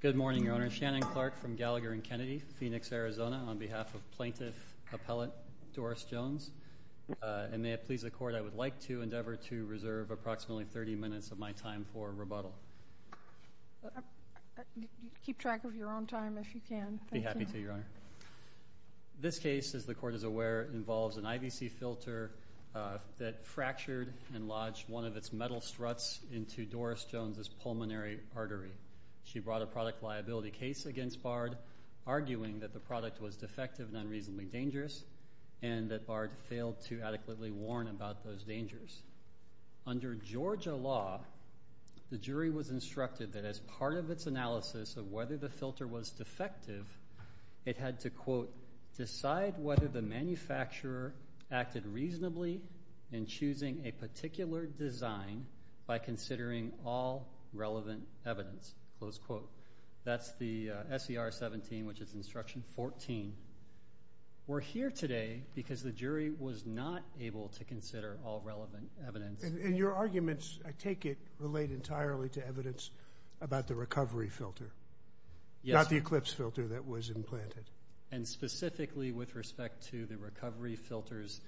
Good morning, Your Honor. Shannon Clark from Gallagher and Kennedy, Phoenix, Arizona, on behalf of Plaintiff Appellate Doris Jones. And may it please the Court, I would like to endeavor to reserve approximately 30 minutes of my time for rebuttal. Keep track of your own time if you can. I'd be happy to, Your Honor. This case, as the Court is aware, involves an IVC filter that fractured and lodged one of its metal struts into Doris Jones's pulmonary artery. She brought a product liability case against Bard, arguing that the product was defective and unreasonably dangerous, and that Bard failed to adequately warn about those dangers. Under Georgia law, the jury was instructed that as part of its analysis of whether the filter was defective, it had to, quote, decide whether the manufacturer acted reasonably in choosing a particular design by considering all relevant evidence, close quote. That's the S.E.R. 17, which is Instruction 14. We're here today because the jury was not able to consider all relevant evidence. And your arguments, I take it, relate entirely to evidence about the recovery filter, not the Eclipse filter that was implanted. And specifically with respect to the recovery filter's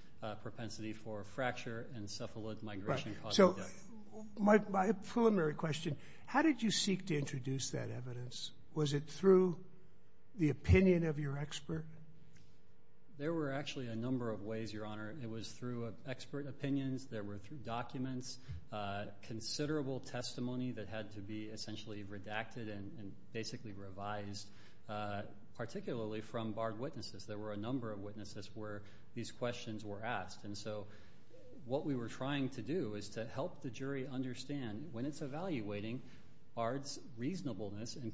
propensity for fracture and cephaloid migration causing death. Right. So, my pulmonary question, how did you seek to introduce that evidence? Was it through the opinion of your expert? There were actually a number of ways, Your Honor. It was through expert opinions. There were documents, considerable testimony that had to be essentially redacted and basically revised, particularly from BARD witnesses. There were a number of witnesses where these questions were asked. And so, what we were trying to do is to help the jury understand when it's evaluating BARD's reasonableness in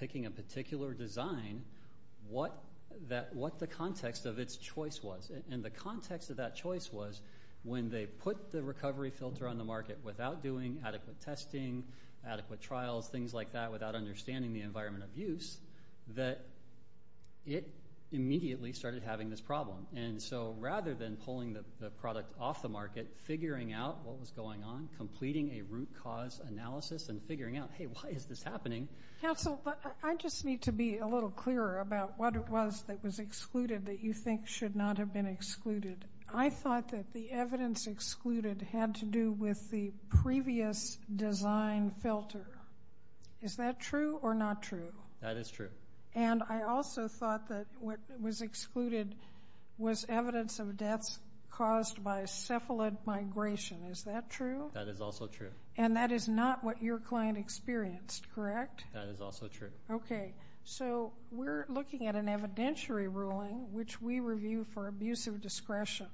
picking a particular design, what the context of its choice was. And the context of that choice was when they put the recovery filter on the market without doing adequate testing, adequate trials, things like that, without understanding the environment of use, that it immediately started having this problem. And so, rather than pulling the product off the market, figuring out what was going on, completing a root cause analysis and figuring out, hey, why is this happening? Counsel, I just need to be a little clearer about what it was that was excluded that you think should not have been excluded. I thought that the evidence excluded had to do with the previous design filter. Is that true or not true? That is true. And I also thought that what was excluded was evidence of deaths caused by cephalid migration. Is that true? That is also true. And that is not what your client experienced, correct? That is also true. Okay. So, we're looking at an evidentiary ruling, which we review for abusive discretion.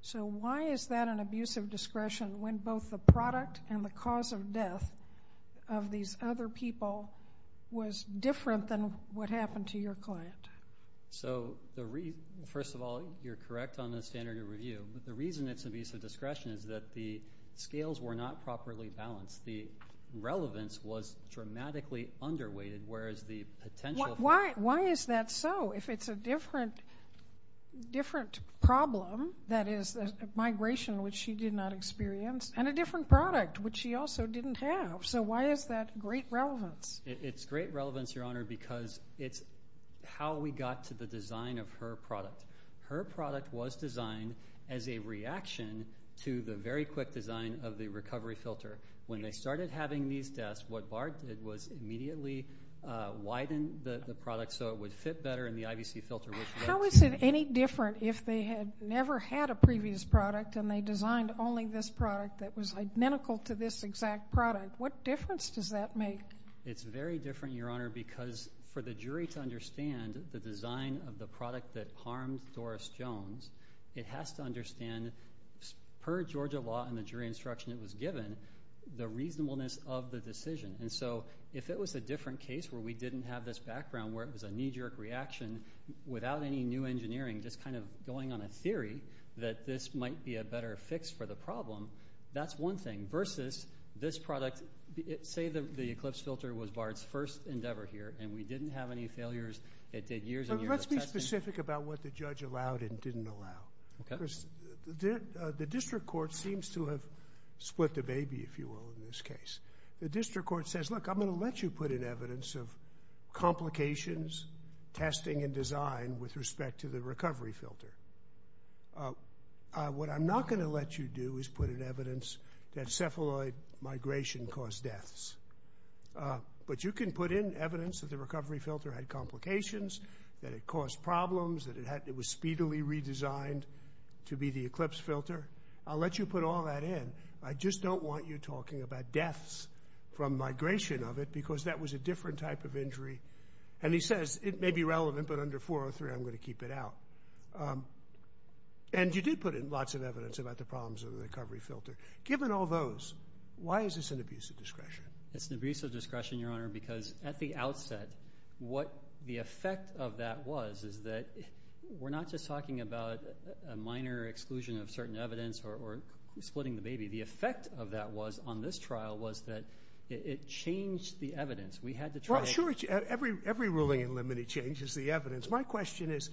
So, why is that an abusive discretion when both the product and the cause of death of these other people was different than what happened to your client? So, first of all, you're correct on the standard of review. But the reason it's abusive discretion is that the scales were not properly balanced. The relevance was dramatically underweighted, whereas the potential... Why is that so if it's a different problem that is a migration which she did not experience and a different product which she also didn't have? So, why is that great relevance? It's great relevance, Your Honor, because it's how we got to the design of her product. Her product was designed as a reaction to the very quick design of the recovery filter When they started having these deaths, what BART did was immediately widen the product so it would fit better in the IVC filter, which led to... How is it any different if they had never had a previous product and they designed only this product that was identical to this exact product? What difference does that make? It's very different, Your Honor, because for the jury to understand the design of the product that harmed Doris Jones, it has to understand, per Georgia law and the jury instruction it was given, the reasonableness of the decision. And so, if it was a different case where we didn't have this background where it was a knee-jerk reaction without any new engineering, just kind of going on a theory that this might be a better fix for the problem, that's one thing, versus this product... Say the Eclipse filter was BART's first endeavor here and we didn't have any failures. It did years and years of testing. Let's be specific about what the judge allowed and didn't allow. Okay. Because the district court seems to have split the baby, if you will, in this case. The district court says, look, I'm going to let you put in evidence of complications, testing and design with respect to the recovery filter. What I'm not going to let you do is put in evidence that cephaloid migration caused deaths. But you can put in evidence that the recovery filter had complications, that it caused problems, that it was speedily redesigned to be the Eclipse filter. I'll let you put all that in. I just don't want you talking about deaths from migration of it because that was a different type of injury. And he says, it may be relevant, but under 403, I'm going to keep it out. And you did put in lots of evidence about the problems of the recovery filter. Given all those, why is this an abuse of discretion? It's an abuse of discretion, Your Honor, because at the outset, what the effect of that was is that we're not just talking about a minor exclusion of certain evidence or splitting the baby. The effect of that was, on this trial, was that it changed the evidence. We had to try to- Well, sure. Every ruling in limine changes the evidence. My question is,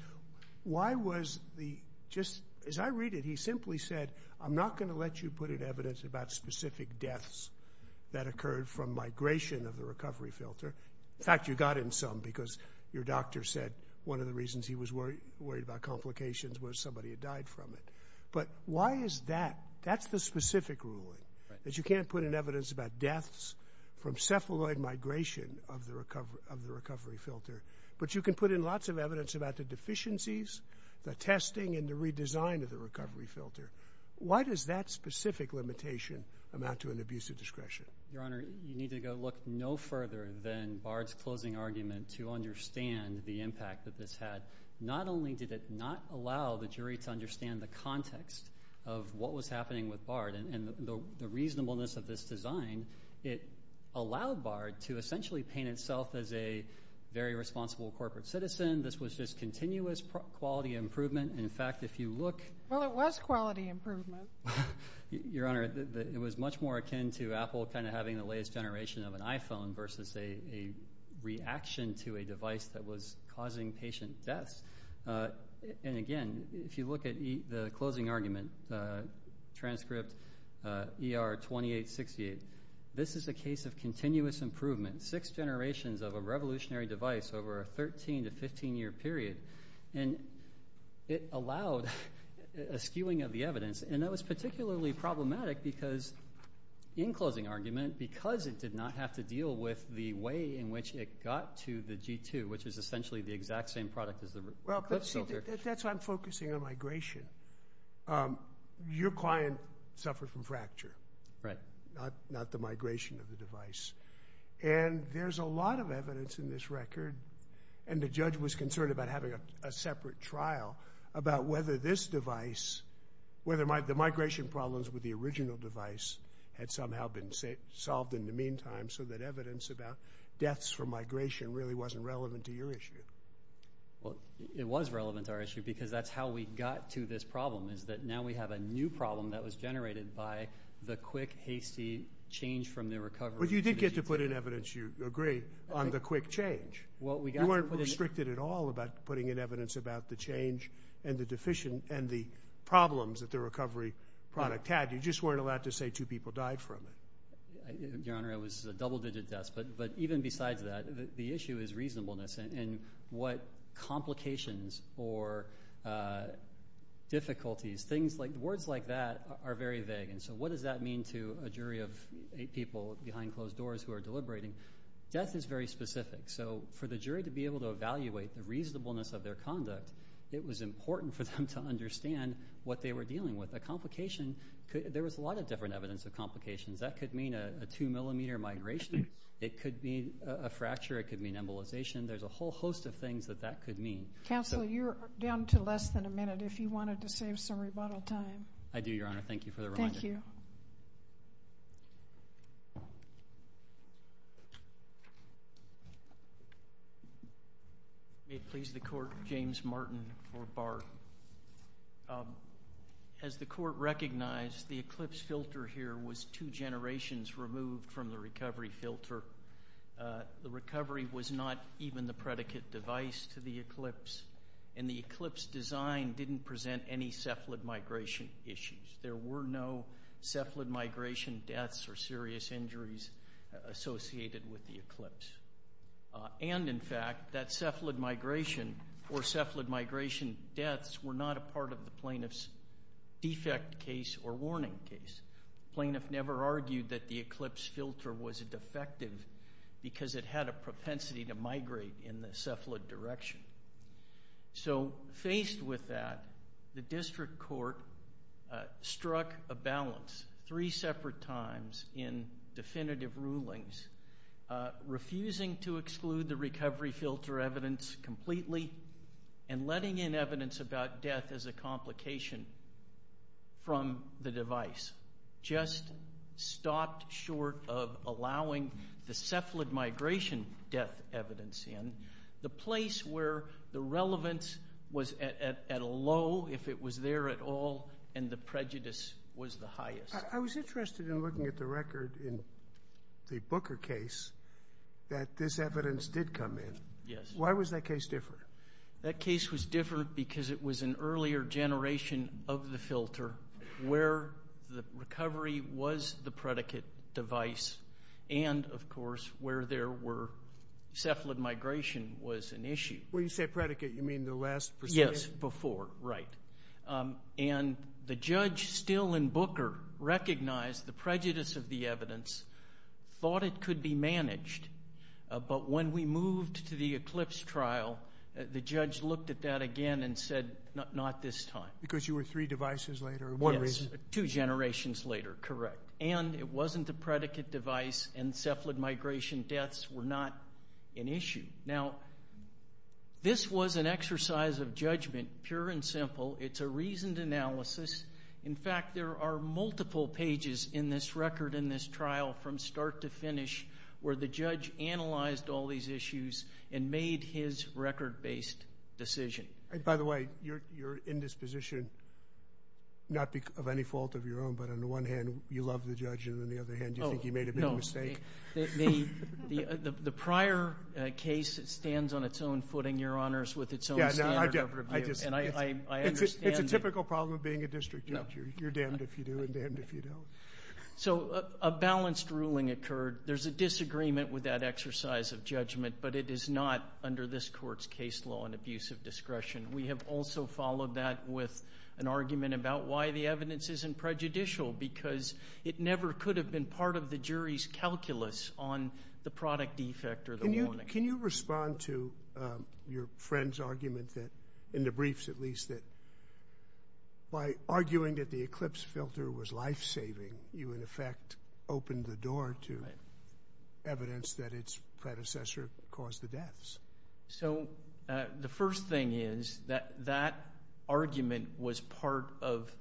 why was the, just as I read it, he simply said, I'm not going to let you put in evidence about specific deaths that occurred from migration of the recovery filter. In fact, you got in some because your doctor said one of the reasons he was worried about complications was somebody had died from it. But why is that? That's the specific ruling, that you can't put in evidence about deaths from cephaloid migration of the recovery filter, but you can put in lots of evidence about the deficiencies, the testing, and the redesign of the recovery filter. Why does that specific limitation amount to an abuse of discretion? Your Honor, you need to go look no further than Bard's closing argument to understand the impact that this had. Not only did it not allow the jury to understand the context of what was happening with Bard and the reasonableness of this design, it allowed Bard to essentially paint itself as a very responsible corporate citizen. This was just continuous quality improvement. In fact, if you look- Well, it was quality improvement. Your Honor, it was much more akin to Apple kind of having the latest generation of an iPhone versus a reaction to a device that was causing patient deaths. And again, if you look at the closing argument, transcript ER 2868, this is a case of continuous improvement, six generations of a revolutionary device over a 13 to 15-year period, and it was particularly problematic because, in closing argument, because it did not have to deal with the way in which it got to the G2, which is essentially the exact same product as the clip filter. Well, but see, that's why I'm focusing on migration. Your client suffered from fracture, not the migration of the device, and there's a lot of evidence in this record, and the judge was concerned about having a separate trial about whether this device, whether the migration problems with the original device had somehow been solved in the meantime so that evidence about deaths from migration really wasn't relevant to your issue. Well, it was relevant to our issue because that's how we got to this problem, is that now we have a new problem that was generated by the quick, hasty change from the recovery to the G2. But you did get to put in evidence, you agree, on the quick change. You weren't restricted at all about putting in evidence about the change and the deficient and the problems that the recovery product had. You just weren't allowed to say two people died from it. Your Honor, it was a double-digit death, but even besides that, the issue is reasonableness and what complications or difficulties, things like, words like that are very vague, and so what does that mean to a jury of eight people behind closed doors who are deliberating? Death is very specific. So for the jury to be able to evaluate the reasonableness of their conduct, it was important for them to understand what they were dealing with. A complication could, there was a lot of different evidence of complications. That could mean a two-millimeter migration, it could mean a fracture, it could mean embolization, there's a whole host of things that that could mean. Counsel, you're down to less than a minute if you wanted to save some rebuttal time. I do, Your Honor. Thank you for the reminder. Thank you. May it please the Court, James Martin for Bard. As the Court recognized, the Eclipse filter here was two generations removed from the recovery filter. The recovery was not even the predicate device to the Eclipse, and the Eclipse design didn't present any cephalid migration issues. There were no cephalid migration deaths or serious injuries associated with the Eclipse. And in fact, that cephalid migration or cephalid migration deaths were not a part of the plaintiff's defect case or warning case. The plaintiff never argued that the Eclipse filter was a defective because it had a propensity to migrate in the cephalid direction. So, faced with that, the District Court struck a balance three separate times in definitive rulings, refusing to exclude the recovery filter evidence completely and letting in evidence about death as a complication from the device, just stopped short of allowing the cephalid migration death evidence in, the place where the relevance was at a low if it was there at all and the prejudice was the highest. I was interested in looking at the record in the Booker case that this evidence did come in. Yes. Why was that case different? That case was different because it was an earlier generation of the filter where the of course, where there were cephalid migration was an issue. When you say predicate, you mean the last pursuit? Yes. Before. Right. And the judge still in Booker recognized the prejudice of the evidence, thought it could be managed, but when we moved to the Eclipse trial, the judge looked at that again and said not this time. Because you were three devices later, one reason. Yes. Two generations later. Correct. And it wasn't a predicate device and cephalid migration deaths were not an issue. Now, this was an exercise of judgment, pure and simple. It's a reasoned analysis. In fact, there are multiple pages in this record, in this trial from start to finish where the judge analyzed all these issues and made his record-based decision. By the way, you're in this position not of any fault of your own, but on the one hand, you love the judge, and on the other hand, you think he made a big mistake. The prior case stands on its own footing, Your Honors, with its own standard of review. And I understand that. It's a typical problem of being a district judge. You're damned if you do and damned if you don't. So a balanced ruling occurred. There's a disagreement with that exercise of judgment, but it is not under this court's case law an abuse of discretion. We have also followed that with an argument about why the evidence isn't prejudicial, because it never could have been part of the jury's calculus on the product defect or the warning. Can you respond to your friend's argument that, in the briefs at least, that by arguing that the eclipse filter was life-saving, you in effect opened the door to evidence that its predecessor caused the deaths? So the first thing is that that argument was part of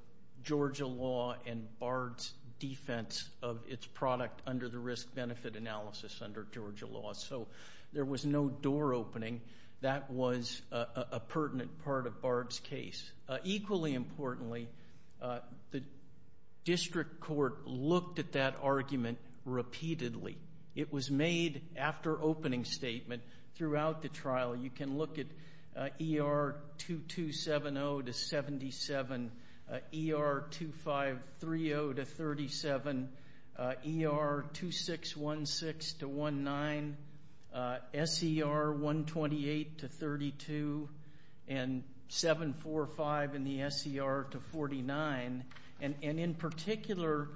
Georgia law and Bard's defense of its product under the risk-benefit analysis under Georgia law. So there was no door opening. That was a pertinent part of Bard's case. Equally importantly, the district court looked at that argument repeatedly. It was made after opening statement throughout the trial. You can look at ER 2270-77, ER 2530-37, ER 2616-19, SER 128-32, and 745 in the SER-49. In particular,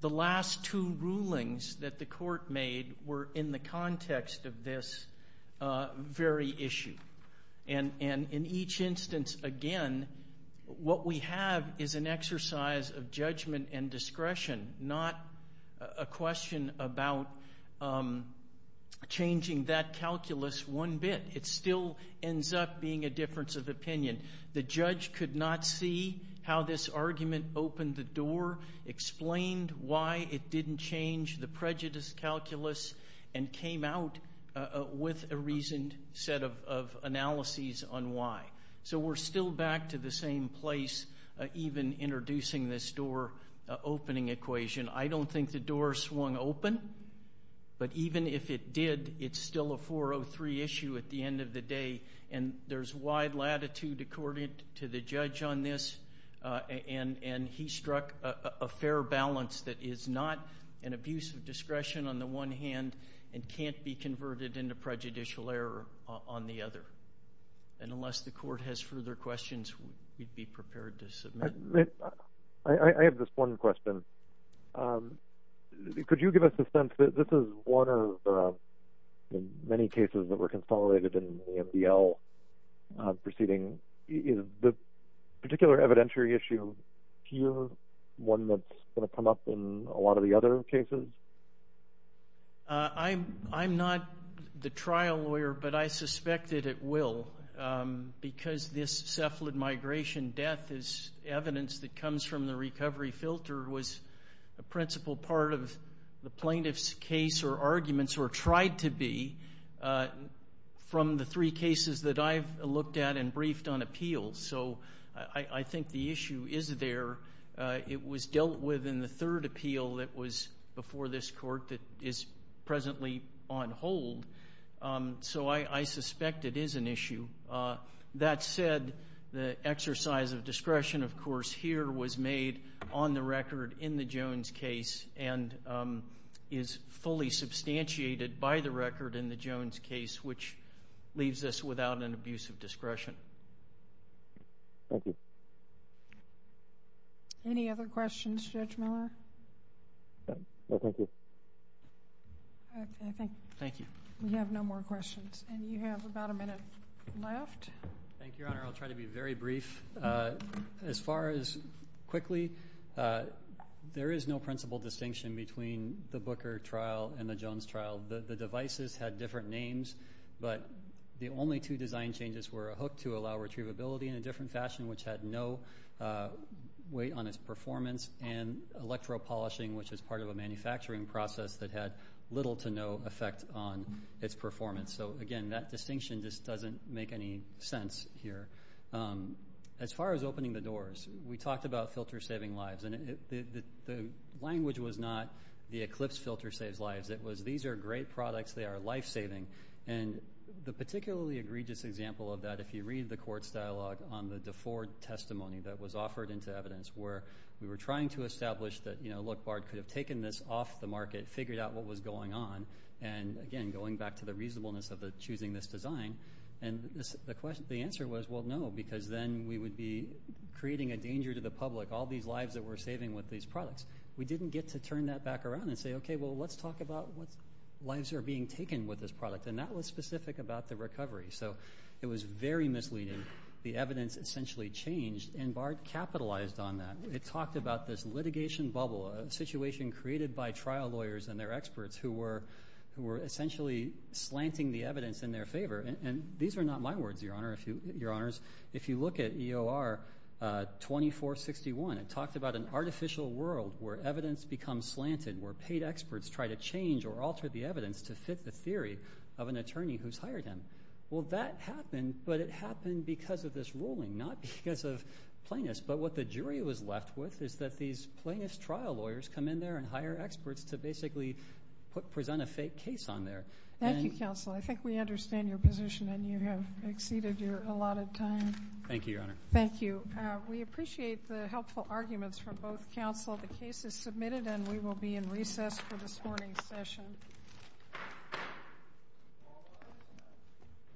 the last two rulings that the court made were in the context of this very issue. In each instance, again, what we have is an exercise of judgment and discretion, not a question about changing that calculus one bit. The judge could not see how this argument opened the door, explained why it didn't change the prejudice calculus, and came out with a reasoned set of analyses on why. So we're still back to the same place, even introducing this door opening equation. I don't think the door swung open, but even if it did, it's still a 403 issue at the end of the day. And there's wide latitude, according to the judge on this, and he struck a fair balance that is not an abuse of discretion on the one hand, and can't be converted into prejudicial error on the other. And unless the court has further questions, we'd be prepared to submit. I have just one question. Could you give us a sense, this is one of the many cases that were consolidated in the MDL proceeding, is the particular evidentiary issue here one that's going to come up in a lot of the other cases? I'm not the trial lawyer, but I suspect that it will, because this cephalid migration death is evidence that comes from the recovery filter, was a principal part of the plaintiff's case or arguments, or tried to be, from the three cases that I've looked at and briefed on appeals. So I think the issue is there. It was dealt with in the third appeal that was before this court that is presently on hold. So I suspect it is an issue. That said, the exercise of discretion, of course, here was made on the record in the Jones case, and is fully substantiated by the record in the Jones case, which leaves us without an abuse of discretion. Thank you. Any other questions, Judge Miller? No, thank you. Thank you. We have no more questions. And you have about a minute. Left. Thank you, Your Honor. I'll try to be very brief. As far as quickly, there is no principal distinction between the Booker trial and the Jones trial. The devices had different names, but the only two design changes were a hook to allow retrievability in a different fashion, which had no weight on its performance, and electropolishing, which is part of a manufacturing process that had little to no effect on its performance. So, again, that distinction just doesn't make any sense here. As far as opening the doors, we talked about filter-saving lives, and the language was not the Eclipse filter saves lives. It was these are great products, they are life-saving. And the particularly egregious example of that, if you read the court's dialogue on the DeFord testimony that was offered into evidence, where we were trying to establish that, you know, look, Bard could have taken this off the market, figured out what was going on, and, again, going back to the reasonableness of choosing this design, and the answer was, well, no, because then we would be creating a danger to the public, all these lives that we're saving with these products. We didn't get to turn that back around and say, okay, well, let's talk about what lives are being taken with this product, and that was specific about the recovery. So it was very misleading. The evidence essentially changed, and Bard capitalized on that. It talked about this litigation bubble, a situation created by trial lawyers and their experts, who were essentially slanting the evidence in their favor. And these are not my words, Your Honor. Your Honors, if you look at EOR 2461, it talked about an artificial world, where evidence becomes slanted, where paid experts try to change or alter the evidence to fit the theory of an attorney who's hired him. Well, that happened, but it happened because of this ruling, not because of plaintiffs. But what the jury was left with is that these plaintiffs' trial lawyers come in there and present a fake case on there. Thank you, counsel. I think we understand your position, and you have exceeded your allotted time. Thank you, Your Honor. Thank you. We appreciate the helpful arguments from both counsel. The case is submitted, and we will be in recess for this morning's session.